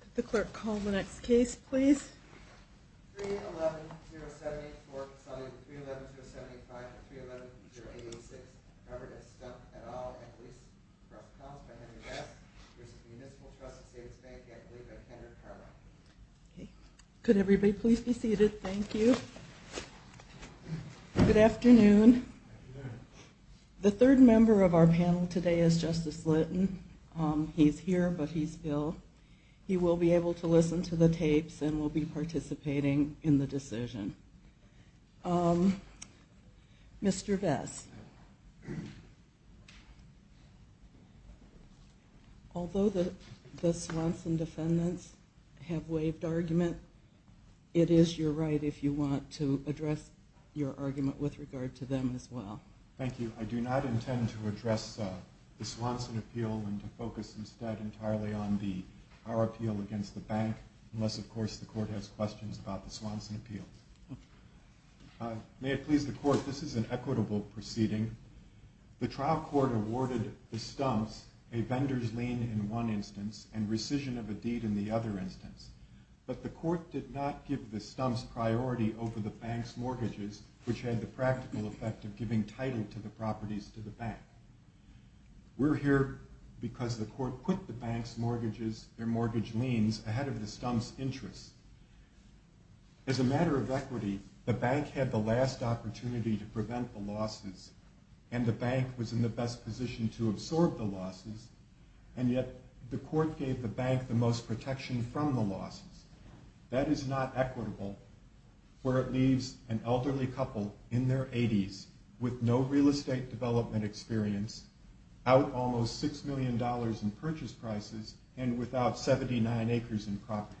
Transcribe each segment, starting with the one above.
Could the clerk call the next case, please? Could everybody please be seated? Thank you. Good afternoon. The third member of our panel today is Justice Litton. He's here, but he's ill. He will be able to listen to the tapes and will be participating in the decision. Mr. Vess, although the Swanson defendants have waived argument, it is your right, if you want, to address your argument with regard to them as well. Thank you. I do not intend to address the Swanson appeal and to focus instead entirely on our appeal against the bank, unless, of course, the Court has questions about the Swanson appeal. May it please the Court, this is an equitable proceeding. The trial court awarded the Stumps a vendor's lien in one instance and rescission of a deed in the other instance, but the Court did not give the Stumps priority over the bank's mortgages, which had the practical effect of giving title to the properties to the bank. We're here because the Court put the bank's mortgages, their mortgage liens, ahead of the Stumps' interests. As a matter of equity, the bank had the last opportunity to prevent the losses, and the bank was in the best position to absorb the losses, and yet the Court gave the bank the most protection from the losses. That is not equitable, where it leaves an elderly couple in their 80s with no real estate development experience, out almost $6 million in purchase prices, and without 79 acres in property.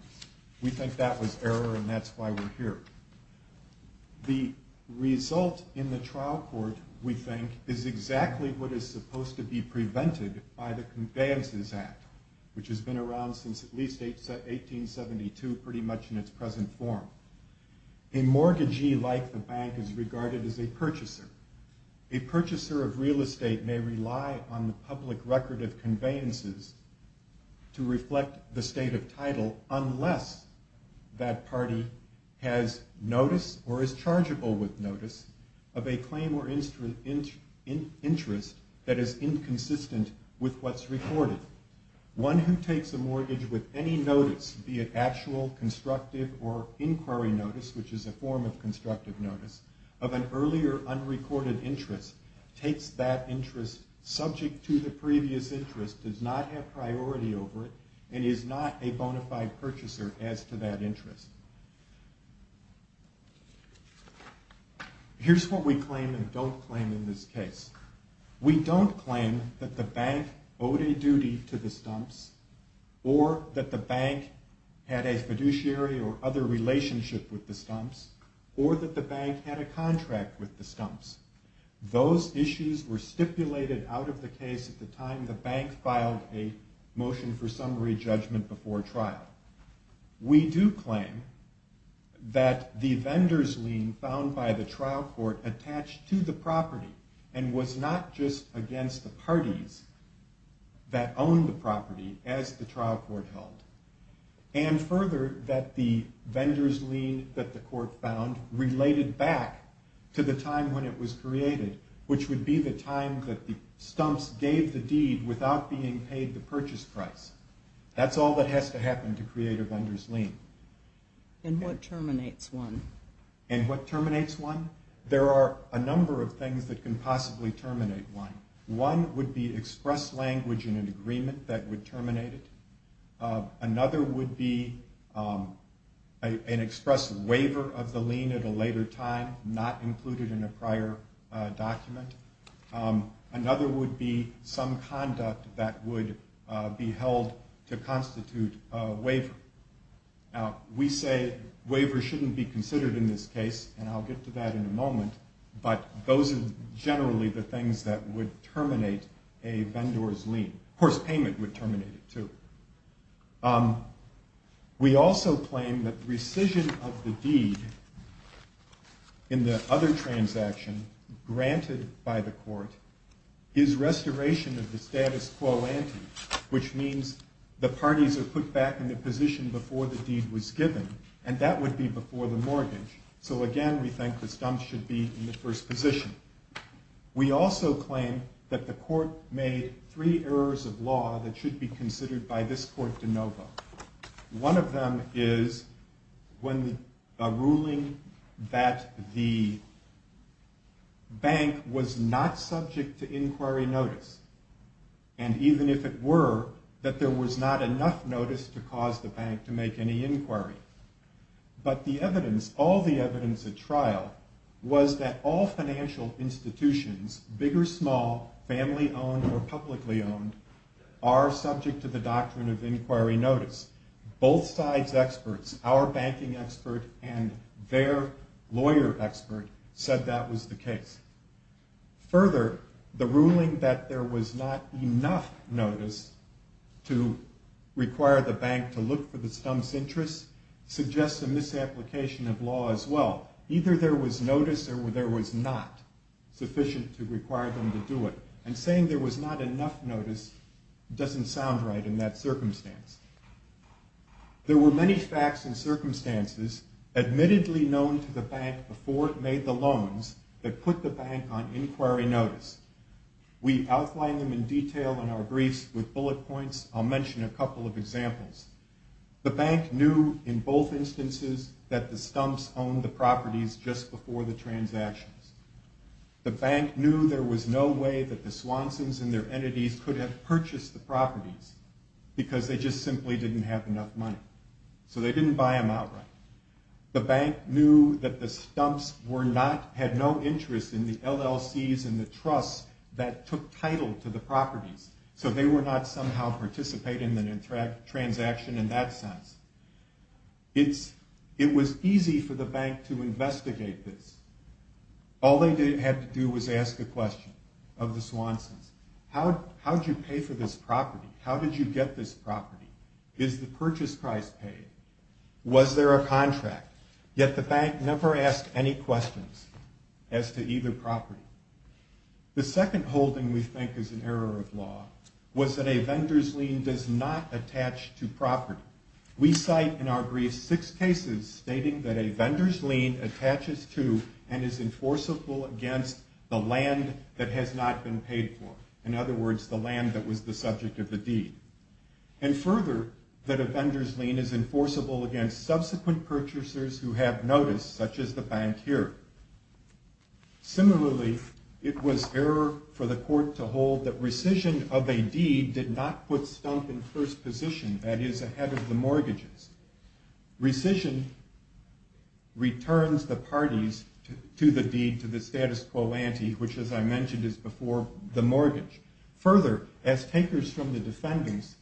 We think that was error, and that's why we're here. The result in the trial court, we think, is exactly what is supposed to be prevented by the Conveyances Act, which has been around since at least 1872, pretty much in its present form. A mortgagee like the bank is regarded as a purchaser. A purchaser of real estate may rely on the public record of conveyances to reflect the state of title unless that party has notice or is chargeable with notice of a claim or interest that is inconsistent with what's recorded. One who takes a mortgage with any notice, be it actual, constructive, or inquiry notice, which is a form of constructive notice, of an earlier, unrecorded interest, takes that interest, subject to the previous interest, does not have priority over it, and is not a bona fide purchaser as to that interest. Here's what we claim and don't claim in this case. We don't claim that the bank owed a duty to the Stumps, or that the bank had a fiduciary or other relationship with the Stumps, or that the bank had a contract with the Stumps. Those issues were stipulated out of the case at the time the bank filed a motion for summary judgment before trial. We do claim that the vendor's lien found by the trial court attached to the property and was not just against the parties that owned the property as the trial court held. And further, that the vendor's lien that the court found related back to the time when it was created, which would be the time that the Stumps gave the deed without being paid the purchase price. That's all that has to happen to create a vendor's lien. And what terminates one? And what terminates one? There are a number of things that can possibly terminate one. One would be express language in an agreement that would terminate it. Another would be an express waiver of the lien at a later time, not included in a prior document. Another would be some conduct that would be held to constitute a waiver. Now, we say waivers shouldn't be considered in this case, and I'll get to that in a moment, but those are generally the things that would terminate a vendor's lien. Of course, payment would terminate it, too. We also claim that rescission of the deed in the other transaction granted by the court is restoration of the status quo ante, which means the parties are put back in the position before the deed was given, and that would be before the mortgage. So, again, we think the Stumps should be in the first position. by this court de novo. One of them is a ruling that the bank was not subject to inquiry notice, and even if it were, that there was not enough notice to cause the bank to make any inquiry. But the evidence, all the evidence at trial, was that all financial institutions, big or small, family-owned or publicly-owned, are subject to the doctrine of inquiry notice. Both sides' experts, our banking expert and their lawyer expert, said that was the case. Further, the ruling that there was not enough notice to require the bank to look for the Stumps' interests suggests a misapplication of law as well. Either there was notice or there was not sufficient to require them to do it, and saying there was not enough notice doesn't sound right in that circumstance. There were many facts and circumstances, admittedly known to the bank before it made the loans, that put the bank on inquiry notice. We outline them in detail in our briefs with bullet points. I'll mention a couple of examples. The bank knew in both instances that the Stumps owned the properties just before the transactions. The bank knew there was no way that the Swansons and their entities could have purchased the properties because they just simply didn't have enough money. So they didn't buy them outright. The bank knew that the Stumps had no interest in the LLCs and the trusts that took title to the properties, so they were not somehow participating in the transaction in that sense. It was easy for the bank to investigate this. All they had to do was ask a question of the Swansons. How did you pay for this property? How did you get this property? Is the purchase price paid? Was there a contract? Yet the bank never asked any questions as to either property. The second holding we think is an error of law was that a vendor's lien does not attach to property. We cite in our brief six cases stating that a vendor's lien attaches to and is enforceable against the land that has not been paid for. In other words, the land that was the subject of the deed. And further, that a vendor's lien is enforceable against subsequent purchasers who have notice, such as the bank here. Similarly, it was error for the court to hold that rescission of a deed did not put Stump in first position, that is, ahead of the mortgages. Rescission returns the parties to the deed, to the status quo ante, which as I mentioned is before the mortgage. Further, as takers from the defendants,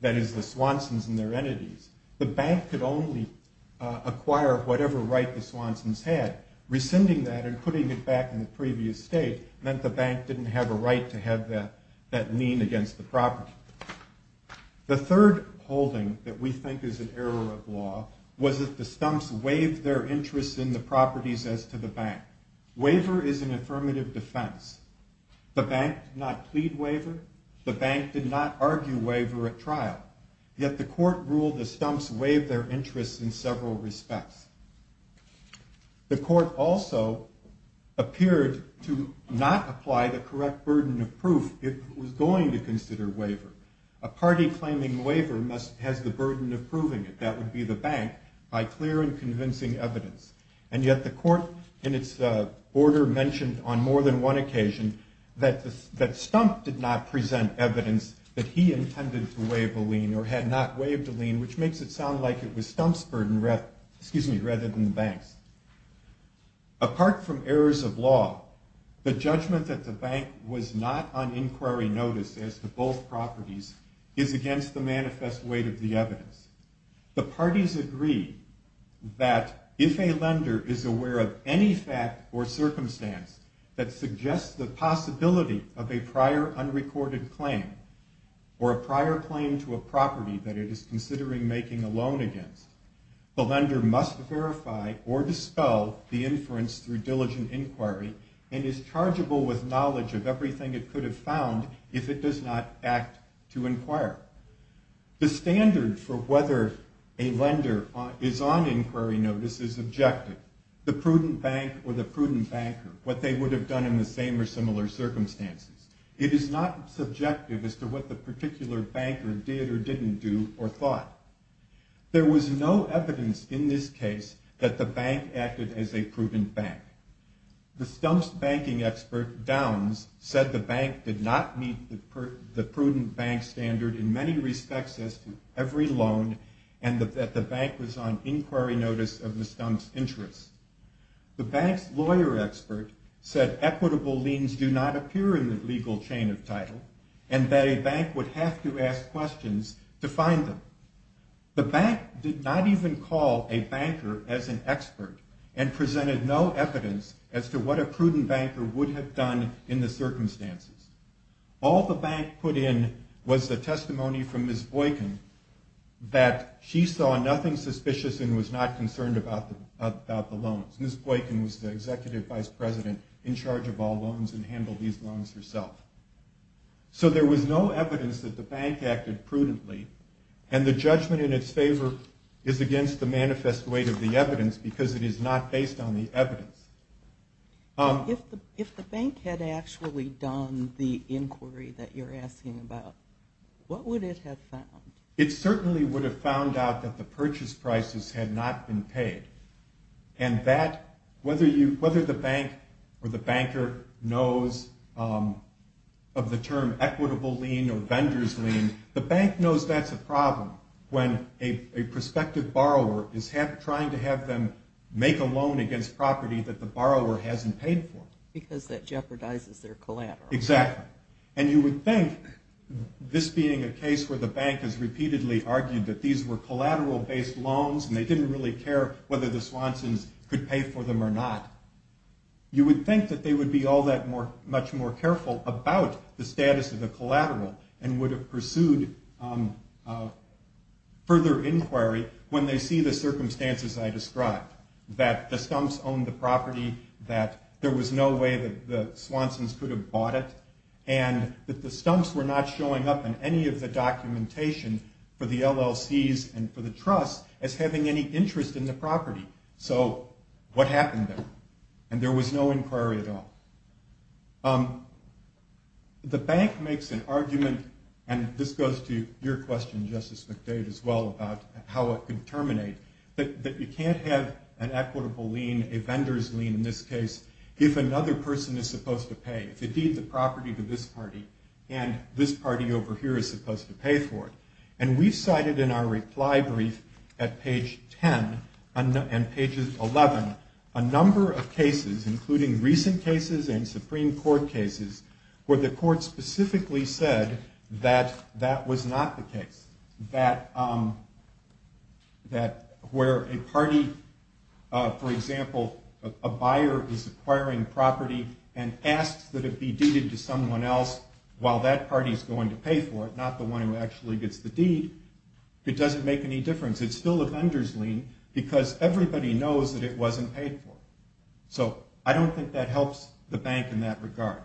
that is, the Swansons and their entities, the bank could only acquire whatever right the Swansons had. Rescinding that and putting it back in the previous state meant the bank didn't have a right to have that lien against the property. The third holding that we think is an error of law was that the Stumps waived their interest in the properties as to the bank. Waiver is an affirmative defense. The bank did not plead waiver. The bank did not argue waiver at trial. Yet the court ruled the Stumps waived their interest in several respects. The court also appeared to not apply the correct burden of proof if it was going to consider waiver. A party claiming waiver has the burden of proving it, that would be the bank, by clear and convincing evidence. And yet the court in its order mentioned on more than one occasion that Stump did not present evidence that he intended to waive a lien or had not waived a lien, which makes it sound like it was Stump's burden rather than the bank's. Apart from errors of law, the judgment that the bank was not on inquiry notice as to both properties is against the manifest weight of the evidence. The parties agree that if a lender is aware of any fact or circumstance that suggests the possibility of a prior unrecorded claim or a prior claim to a property that it is considering making a loan against, the lender must verify or dispel the inference through diligent inquiry and is chargeable with knowledge of everything it could have found if it does not act to inquire. The standard for whether a lender is on inquiry notice is objective. The prudent bank or the prudent banker, what they would have done in the same or similar circumstances. It is not subjective as to what the particular banker did or didn't do or thought. There was no evidence in this case that the bank acted as a prudent bank. The stump's banking expert, Downs, said the bank did not meet the prudent bank standard in many respects as to every loan and that the bank was on inquiry notice of the stump's interest. The bank's lawyer expert said equitable liens do not appear in the legal chain of title and that a bank would have to ask questions to find them. The bank did not even call a banker as an expert and presented no evidence as to what a prudent banker would have done in the circumstances. All the bank put in was the testimony from Ms. Boykin that she saw nothing suspicious and was not concerned about the loans. Ms. Boykin was the executive vice president in charge of all loans and handled these loans herself. So there was no evidence that the bank acted prudently and the judgment in its favor is against the manifest weight of the evidence because it is not based on the evidence. If the bank had actually done the inquiry that you're asking about, what would it have found? It certainly would have found out that the purchase prices had not been paid and whether the bank or the banker knows of the term equitable lien or vendor's lien, the bank knows that's a problem when a prospective borrower is trying to have them make a loan against property that the borrower hasn't paid for. Because that jeopardizes their collateral. Exactly. And you would think, this being a case where the bank has repeatedly argued that these were collateral-based loans and they didn't really care whether the Swansons could pay for them or not, you would think that they would be all that much more careful about the status of the collateral and would have pursued further inquiry when they see the circumstances I described, that the Stumps owned the property, that there was no way that the Swansons could have bought it, and that the Stumps were not showing up in any of the documentation for the LLCs and for the trusts as having any interest in the property. So what happened there? And there was no inquiry at all. The bank makes an argument, and this goes to your question, Justice McDade, as well, about how it could terminate, that you can't have an equitable lien, a vendor's lien in this case, if another person is supposed to pay, if indeed the property to this party and this party over here is supposed to pay for it. And we've cited in our reply brief at page 10 and page 11 a number of cases, including recent cases and Supreme Court cases, where the court specifically said that that was not the case, that where a party, for example, a buyer is acquiring property and asks that it be deeded to someone else while that party is going to pay for it, not the one who actually gets the deed, it doesn't make any difference. It's still a vendor's lien because everybody knows that it wasn't paid for. So I don't think that helps the bank in that regard.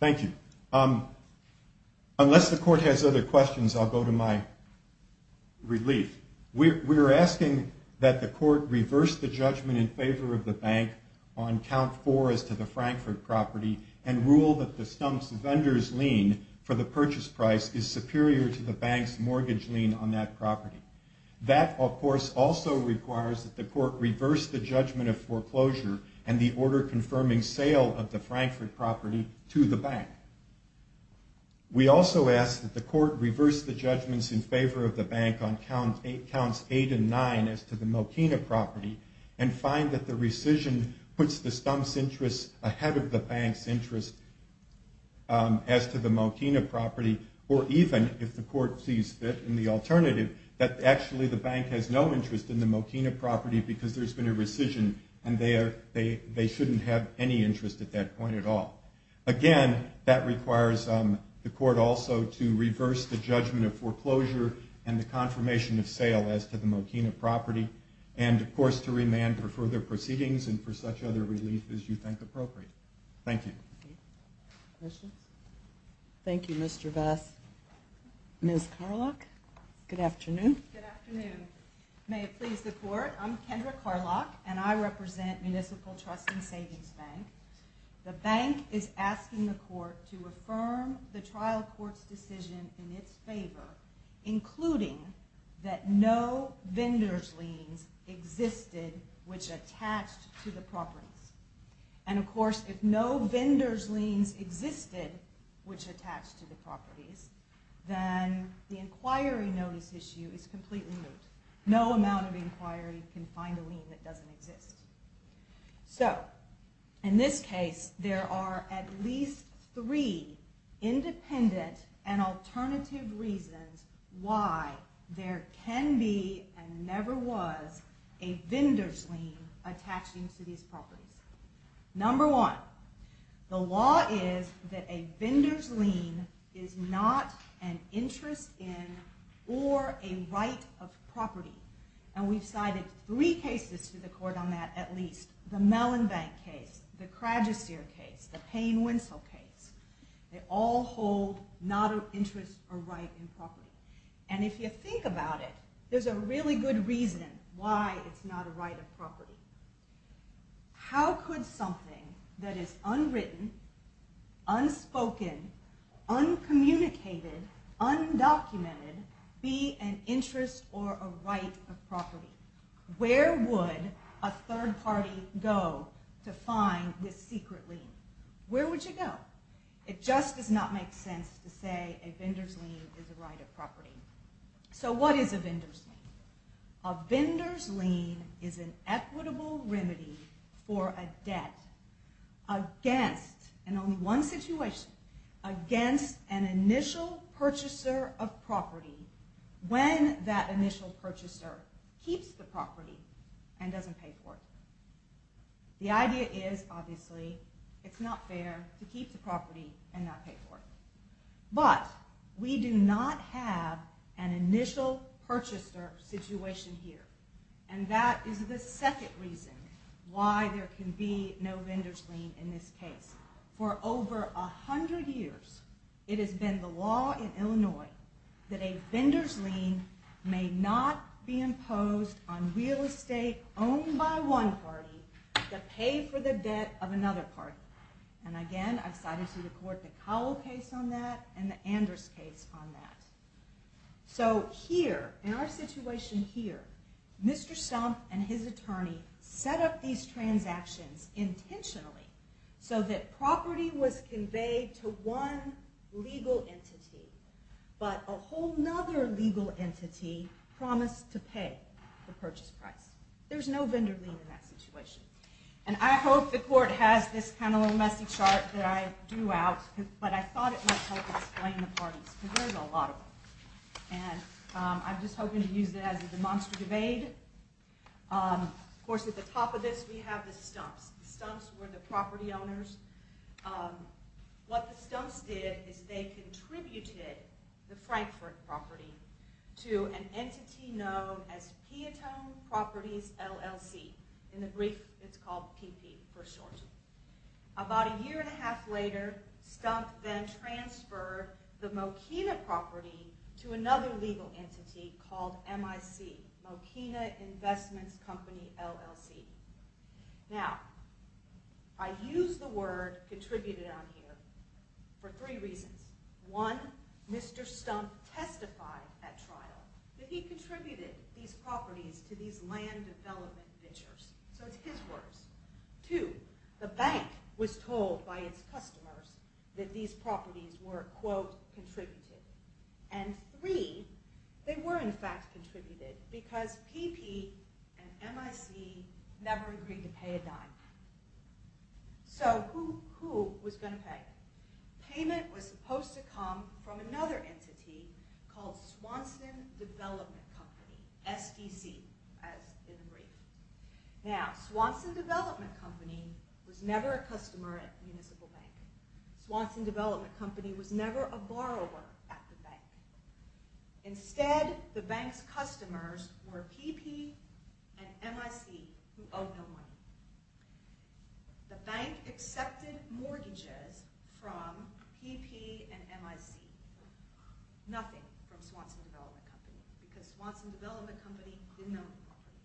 Thank you. Unless the court has other questions, I'll go to my relief. We're asking that the court reverse the judgment in favor of the bank on count four as to the Frankfurt property and rule that the stump's vendor's lien for the purchase price is superior to the bank's mortgage lien on that property. That, of course, also requires that the court reverse the judgment of foreclosure and the order confirming sale of the Frankfurt property to the bank. We also ask that the court reverse the judgments in favor of the bank on counts eight and nine as to the Mokina property and find that the rescission puts the stump's interest ahead of the bank's interest as to the Mokina property or even, if the court sees fit in the alternative, that actually the bank has no interest in the Mokina property because there's been a rescission and they shouldn't have any interest at that point at all. Again, that requires the court also to reverse the judgment of foreclosure and the confirmation of sale as to the Mokina property and, of course, to remand for further proceedings and for such other relief as you think appropriate. Thank you. Thank you, Mr. Vest. Ms. Carlock, good afternoon. Good afternoon. May it please the court, I'm Kendra Carlock and I represent Municipal Trust and Savings Bank. The bank is asking the court to affirm the trial court's decision in its favor, including that no vendors' liens existed which attached to the properties. And, of course, if no vendors' liens existed which attached to the properties, then the inquiry notice issue is completely moot. No amount of inquiry can find a lien that doesn't exist. So, in this case, there are at least three independent and alternative reasons why there can be Number one, the law is that a vendor's lien is not an interest in or a right of property. And we've cited three cases to the court on that, at least. The Mellon Bank case, the Craddeseer case, the Payne-Winslow case. They all hold not an interest or right in property. And if you think about it, there's a really good reason why it's not a right of property. How could something that is unwritten, unspoken, uncommunicated, undocumented be an interest or a right of property? Where would a third party go to find this secret lien? Where would you go? It just does not make sense to say a vendor's lien is a right of property. So what is a vendor's lien? A vendor's lien is an equitable remedy for a debt against, in only one situation, against an initial purchaser of property when that initial purchaser keeps the property and doesn't pay for it. The idea is, obviously, it's not fair to keep the property and not pay for it. But we do not have an initial purchaser situation here. And that is the second reason why there can be no vendor's lien in this case. For over 100 years, it has been the law in Illinois that a vendor's lien may not be imposed on real estate owned by one party to pay for the debt of another party. And again, I've cited to the court the Cowell case on that and the Anders case on that. So here, in our situation here, Mr. Stumpf and his attorney set up these transactions intentionally so that property was conveyed to one legal entity, but a whole other legal entity promised to pay the purchase price. There's no vendor lien in that situation. And I hope the court has this kind of little messy chart that I drew out, but I thought it might help explain the parties, because there's a lot of them. And I'm just hoping to use it as a demonstrative aid. Of course, at the top of this, we have the Stumpfs. The Stumpfs were the property owners. What the Stumpfs did is they contributed the Frankfort property to an entity known as Piatone Properties, LLC. In the brief, it's called PP for short. About a year and a half later, Stumpf then transferred the Mokina property to another legal entity called MIC, Mokina Investments Company, LLC. Now, I use the word contributed on here for three reasons. One, Mr. Stumpf testified at trial that he contributed these properties to these land development ventures. So it's his words. Two, the bank was told by its customers that these properties were, quote, contributed. And three, they were in fact contributed because PP and MIC never agreed to pay a dime. So who was going to pay? Payment was supposed to come from another entity called Swanson Development Company, SDC, as in the brief. Now, Swanson Development Company was never a customer at Municipal Bank. Swanson Development Company was never a borrower at the bank. Instead, the bank's customers were PP and MIC who owed no money. The bank accepted mortgages from PP and MIC. Nothing from Swanson Development Company because Swanson Development Company didn't own the property.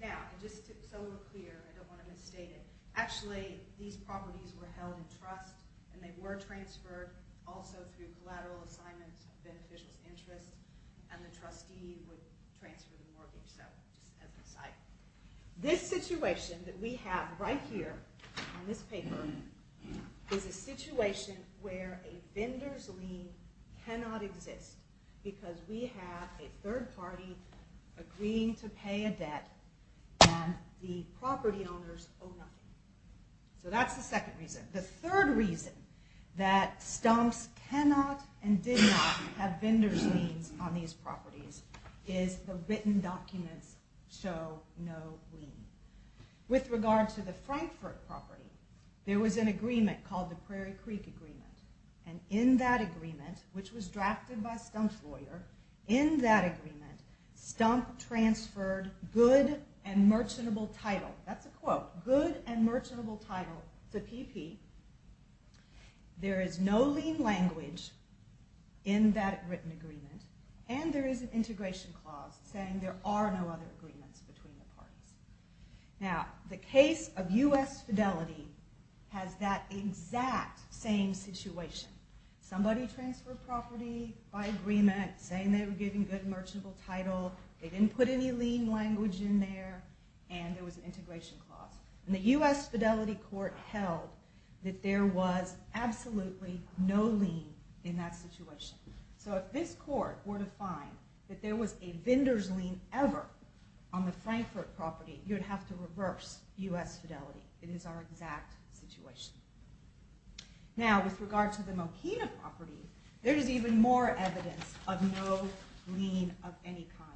Now, just so we're clear, I don't want to misstate it. Actually, these properties were held in trust and they were transferred also through collateral assignments of beneficials interest and the trustee would transfer the mortgage, so just as an aside. This situation that we have right here on this paper is a situation where a vendor's lien cannot exist because we have a third party agreeing to pay a debt and the property owners owe nothing. So that's the second reason. The third reason that stumps cannot and did not have vendor's liens on these properties is the written documents show no lien. With regard to the Frankfurt property, there was an agreement called the Prairie Creek Agreement and in that agreement, which was drafted by a stumps lawyer, in that agreement, stump transferred good and merchantable title, that's a quote, good and merchantable title to PP. There is no lien language in that written agreement and there is an integration clause saying there are no other agreements between the parties. Now, the case of U.S. Fidelity has that exact same situation. Somebody transferred property by agreement saying they were giving good and merchantable title, they didn't put any lien language in there and there was an integration clause. The U.S. Fidelity court held that there was absolutely no lien in that situation. So if this court were to find that there was a vendor's lien ever on the Frankfurt property, you would have to reverse U.S. Fidelity. It is our exact situation. Now, with regard to the Mokina property, there is even more evidence of no lien of any kind.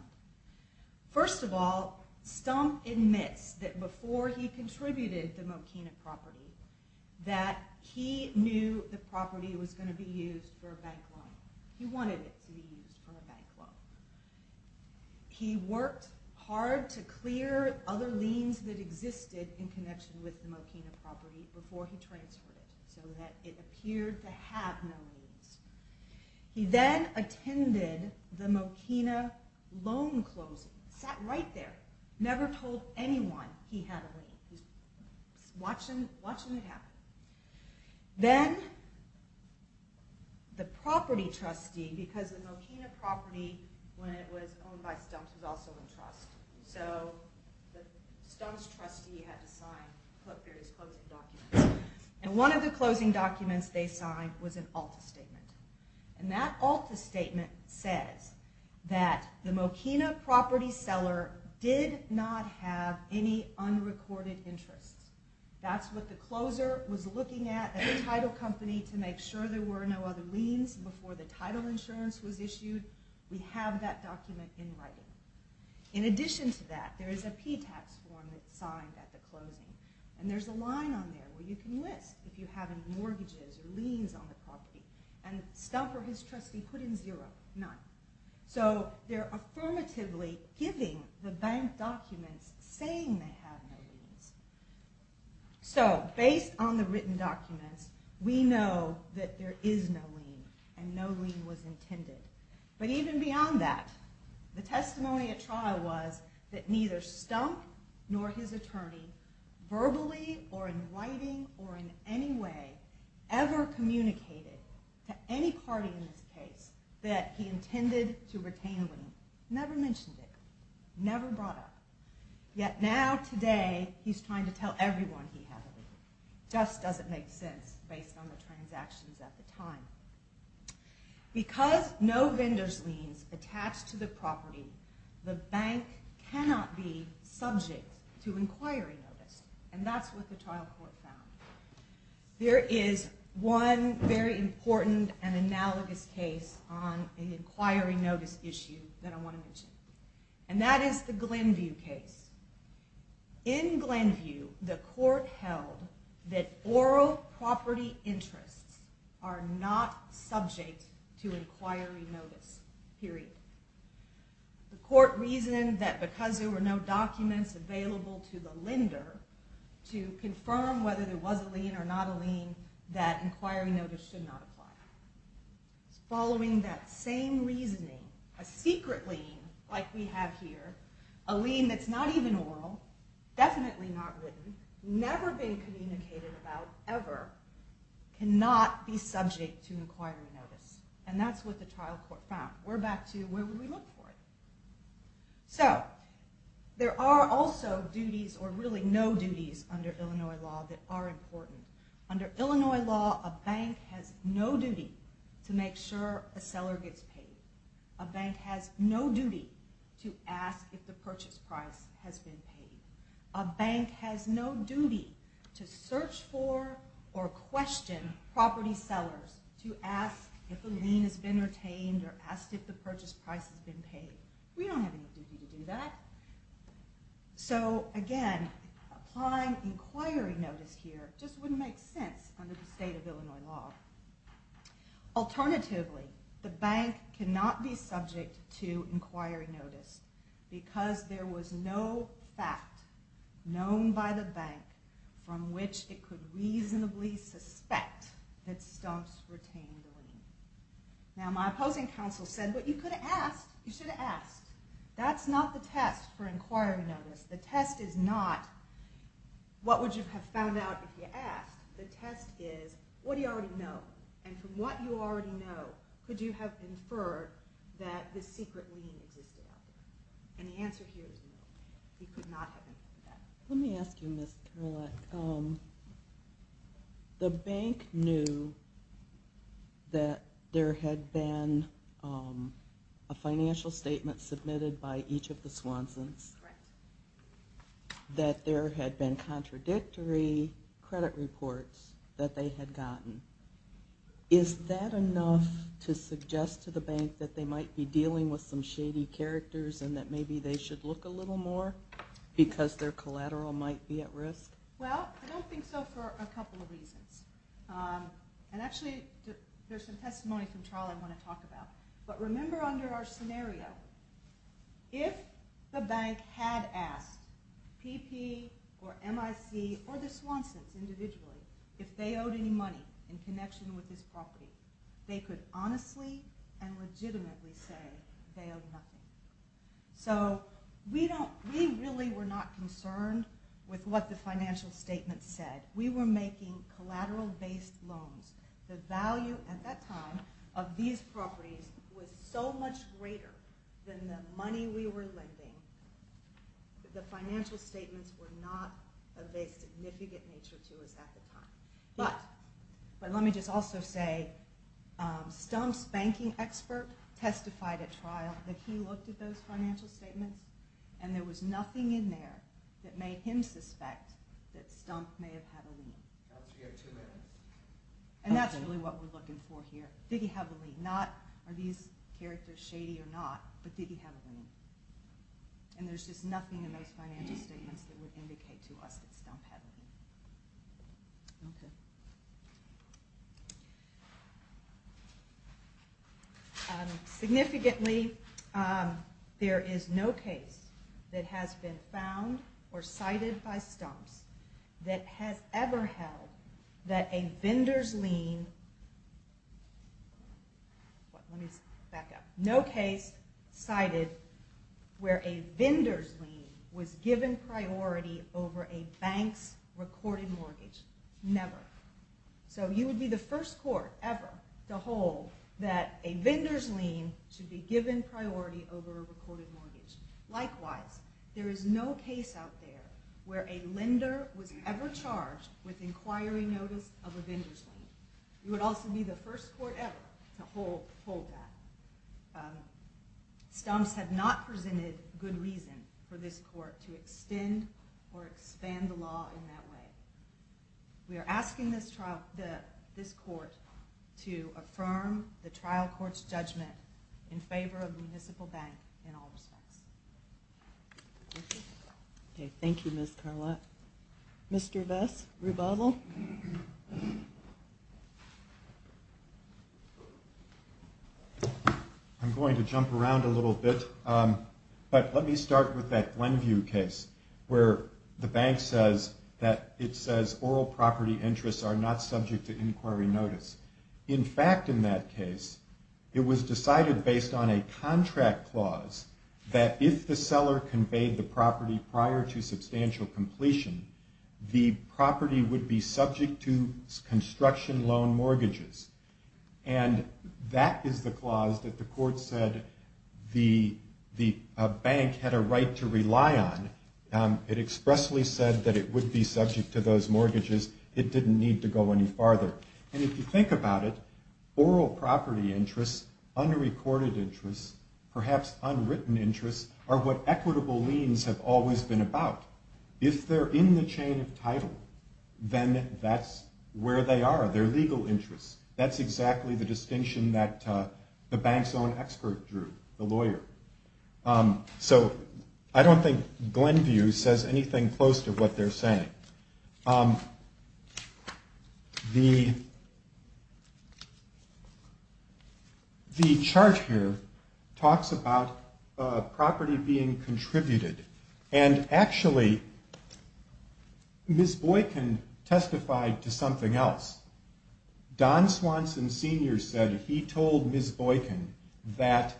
First of all, stump admits that before he contributed the Mokina property, that he knew the property was going to be used for a bank loan. He wanted it to be used for a bank loan. He worked hard to clear other liens that existed in connection with the Mokina property before he transferred it so that it appeared to have no liens. He then attended the Mokina loan closing, sat right there, never told anyone he had a lien. He was watching it happen. Then the property trustee, because the Mokina property, when it was owned by Stumps, was also in trust, so the Stumps trustee had to sign various closing documents. And one of the closing documents they signed was an ALTA statement. And that ALTA statement says that the Mokina property seller did not have any unrecorded interests. That's what the closer was looking at at the title company to make sure there were no other liens before the title insurance was issued. We have that document in writing. In addition to that, there is a P-Tax form that's signed at the closing. And there's a line on there where you can list if you have any mortgages or liens on the property. And Stump or his trustee put in zero, none. So they're affirmatively giving the bank documents saying they have no liens. So based on the written documents, we know that there is no lien and no lien was intended. But even beyond that, the testimony at trial was that neither Stump nor his attorney, verbally or in writing or in any way, ever communicated to any party in this case that he intended to retain a lien. Never mentioned it. Never brought up. Yet now today, he's trying to tell everyone he had a lien. Just doesn't make sense based on the transactions at the time. Because no vendor's liens attached to the property, the bank cannot be subject to inquiry notice. And that's what the trial court found. There is one very important and analogous case on an inquiry notice issue that I want to mention. And that is the Glenview case. In Glenview, the court held that oral property interests are not subject to inquiry notice. Period. The court reasoned that because there were no documents available to the lender to confirm whether there was a lien or not a lien, that inquiry notice should not apply. Following that same reasoning, a secret lien like we have here, a lien that's not even oral, definitely not written, never been communicated about ever, cannot be subject to inquiry notice. And that's what the trial court found. We're back to where would we look for it? So, there are also duties or really no duties under Illinois law that are important. Under Illinois law, a bank has no duty to make sure a seller gets paid. A bank has no duty to ask if the purchase price has been paid. A bank has no duty to search for or question property sellers to ask if a lien has been retained or ask if the purchase price has been paid. We don't have any duty to do that. So, again, applying inquiry notice here just wouldn't make sense under the state of Illinois law. Alternatively, the bank cannot be subject to inquiry notice because there was no fact known by the bank from which it could reasonably suspect that Stumps retained the lien. Now, my opposing counsel said, but you could have asked. You should have asked. That's not the test for inquiry notice. The test is not what would you have found out if you asked. The test is, what do you already know? And from what you already know, could you have inferred that this secret lien existed out there? And the answer here is no. You could not have inferred that. Let me ask you, Ms. Kerouac. The bank knew that there had been a financial statement submitted by each of the Swansons, that there had been contradictory credit reports that they had gotten. Is that enough to suggest to the bank that they might be dealing with some shady characters and that maybe they should look a little more because their collateral might be at risk? Well, I don't think so for a couple of reasons. And actually, there's some testimony from Charles I want to talk about. But remember under our scenario, if the bank had asked PP or MIC or the Swansons individually if they owed any money in connection with this property, they could honestly and legitimately say they owed nothing. So we really were not concerned with what the financial statement said. We were making collateral-based loans. The value at that time of these properties was so much greater than the money we were lending that the financial statements were not of a significant nature to us at the time. But let me just also say, Stump's banking expert testified at trial that he looked at those financial statements and there was nothing in there that made him suspect that Stump may have had a lien. And that's really what we're looking for here. Did he have a lien? Are these characters shady or not? But did he have a lien? And there's just nothing in those financial statements that would indicate to us that Stump had a lien. Significantly, there is no case that has been found or cited by Stump's that has ever held that a vendor's lien... No case cited where a vendor's lien was given priority over a bank's recorded mortgage. Never. So you would be the first court ever to hold that a vendor's lien should be given priority over a recorded mortgage. Likewise, there is no case out there where a lender was ever charged with inquiring notice of a vendor's lien. You would also be the first court ever to hold that. Stump's had not presented good reason for this court to extend or expand the law in that way. We are asking this court to affirm the trial court's judgment in favor of the municipal bank in all respects. Thank you, Ms. Carlott. Mr. Vess, rebuttal? I'm going to jump around a little bit, but let me start with that Glenview case where the bank says that it says oral property interests are not subject to inquiry notice. In fact, in that case, it was decided based on a contract clause that if the seller conveyed the property prior to substantial completion, the property would be subject to construction loan mortgages. And that is the clause that the court said the bank had a right to rely on. It expressly said that it would be subject to those mortgages. It didn't need to go any farther. And if you think about it, oral property interests, unrecorded interests, perhaps unwritten interests, are what equitable liens have always been about. If they're in the chain of title, then that's where they are, they're legal interests. That's exactly the distinction that the bank's own expert drew, the lawyer. So I don't think Glenview says anything close to what they're saying. The chart here talks about property being contributed. And actually, Ms. Boykin testified to something else. Don Swanson Sr. said he told Ms. Boykin that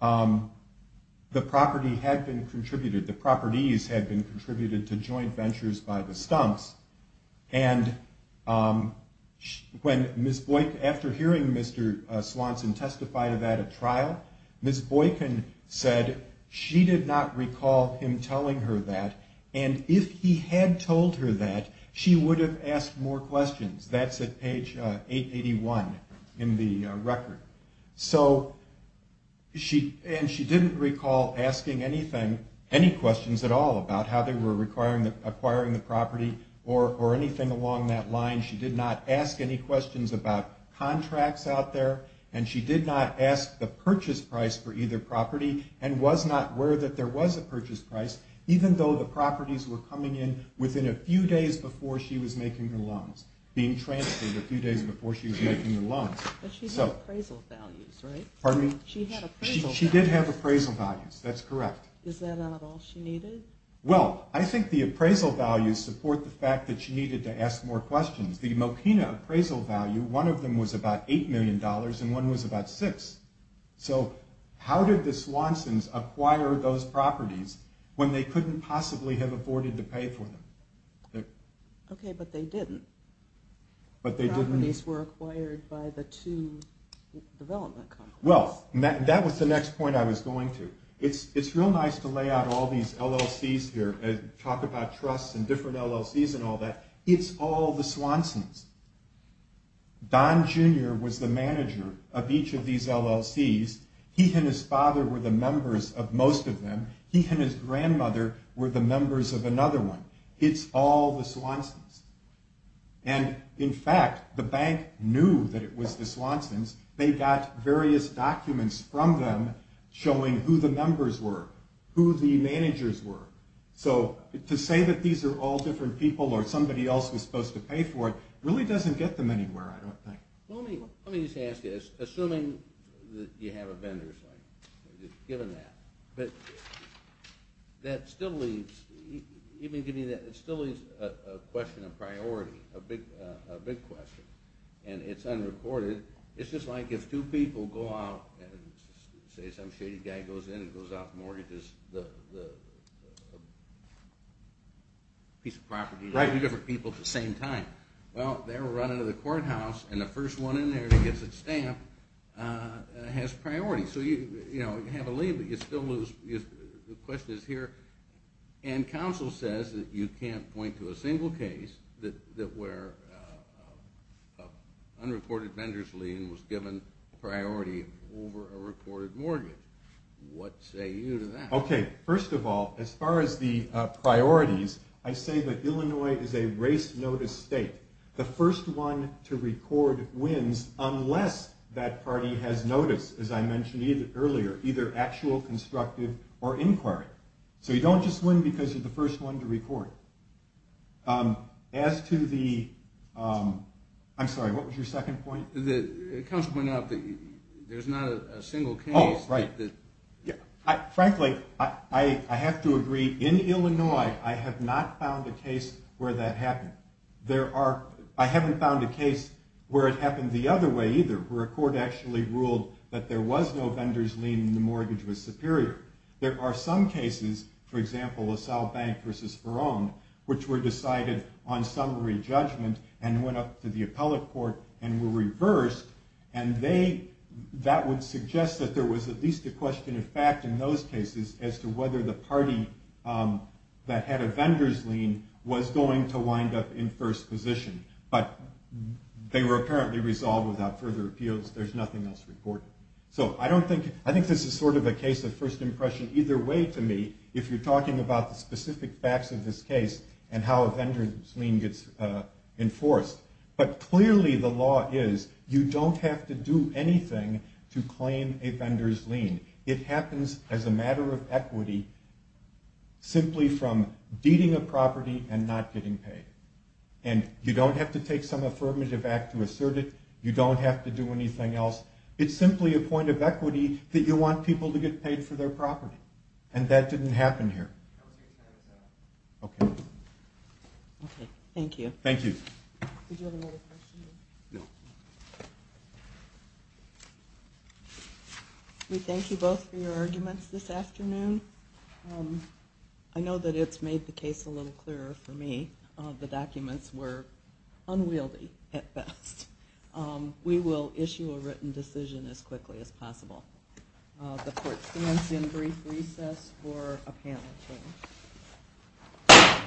the property had been contributed, the properties had been contributed to joint ventures by the Stumps. And when Ms. Boykin, after hearing Mr. Swanson testify to that at trial, Ms. Boykin said she did not recall him telling her that. And if he had told her that, she would have asked more questions. That's at page 881 in the record. And she didn't recall asking any questions at all about how they were acquiring the property or anything along that line. She did not ask any questions about contracts out there. And she did not ask the purchase price for either property and was not aware that there was a purchase price, even though the properties were coming in within a few days before she was making the loans, being transferred a few days before she was making the loans. But she had appraisal values, right? Well, I think the appraisal values support the fact that she needed to ask more questions. The Mokina appraisal value, one of them was about $8 million and one was about $6 million. So how did the Swansons acquire those properties when they couldn't possibly have afforded to pay for them? Okay, but they didn't. The properties were acquired by the two development companies. Well, that was the next point I was going to. It's real nice to lay out all these LLCs here and talk about trusts and different LLCs and all that. It's all the Swansons. Don Jr. was the manager of each of these LLCs. He and his father were the members of most of them. He and his grandmother were the members of another one. It's all the Swansons. And in fact, the bank knew that it was the Swansons. They got various documents from them showing who the members were, who the managers were. So to say that these are all different people or somebody else was supposed to pay for it really doesn't get them anywhere, I don't think. Let me just ask you, assuming that you have a vendor's link, given that, that still leaves a question of priority, a big question. And it's unreported. It's just like if two people go out and say some shady guy goes in and goes out and mortgages a piece of property to two different people at the same time. Well, they're running to the courthouse and the first one in there that gets its stamp has priority. So you have a lien, but you still lose. The question is here. And counsel says that you can't point to a single case that where an unreported vendor's lien was given priority over a reported mortgage. What say you to that? Okay, first of all, as far as the priorities, I say that Illinois is a race notice state. The first one to record wins unless that party has notice, as I mentioned earlier, either actual, constructive, or inquiry. So you don't just win because you're the first one to record. As to the... I'm sorry, what was your second point? The counsel pointed out that there's not a single case... Oh, right. Frankly, I have to agree, in Illinois, I have not found a case where that happened. I haven't found a case where it happened the other way either, where a court actually ruled that there was no vendor's lien and the mortgage was superior. There are some cases, for example, LaSalle Bank v. Verone, which were decided on summary judgment and went up to the appellate court and were reversed, and that would suggest that there was at least a question of fact in those cases as to whether the party that had a vendor's lien was going to wind up in first position. But they were apparently resolved without further appeals. There's nothing else reported. So I think this is sort of a case of first impression either way to me if you're talking about the specific facts of this case and how a vendor's lien gets enforced. But clearly the law is you don't have to do anything to claim a vendor's lien. It happens as a matter of equity simply from deeding a property and not getting paid. And you don't have to take some affirmative act to assert it. You don't have to do anything else. It's simply a point of equity that you want people to get paid for their property. And that didn't happen here. Okay. Thank you. Did you have another question? No. We thank you both for your arguments this afternoon. I know that it's made the case a little clearer for me. The documents were unwieldy at best. We will issue a written decision as quickly as possible. The court stands in brief recess for a panel.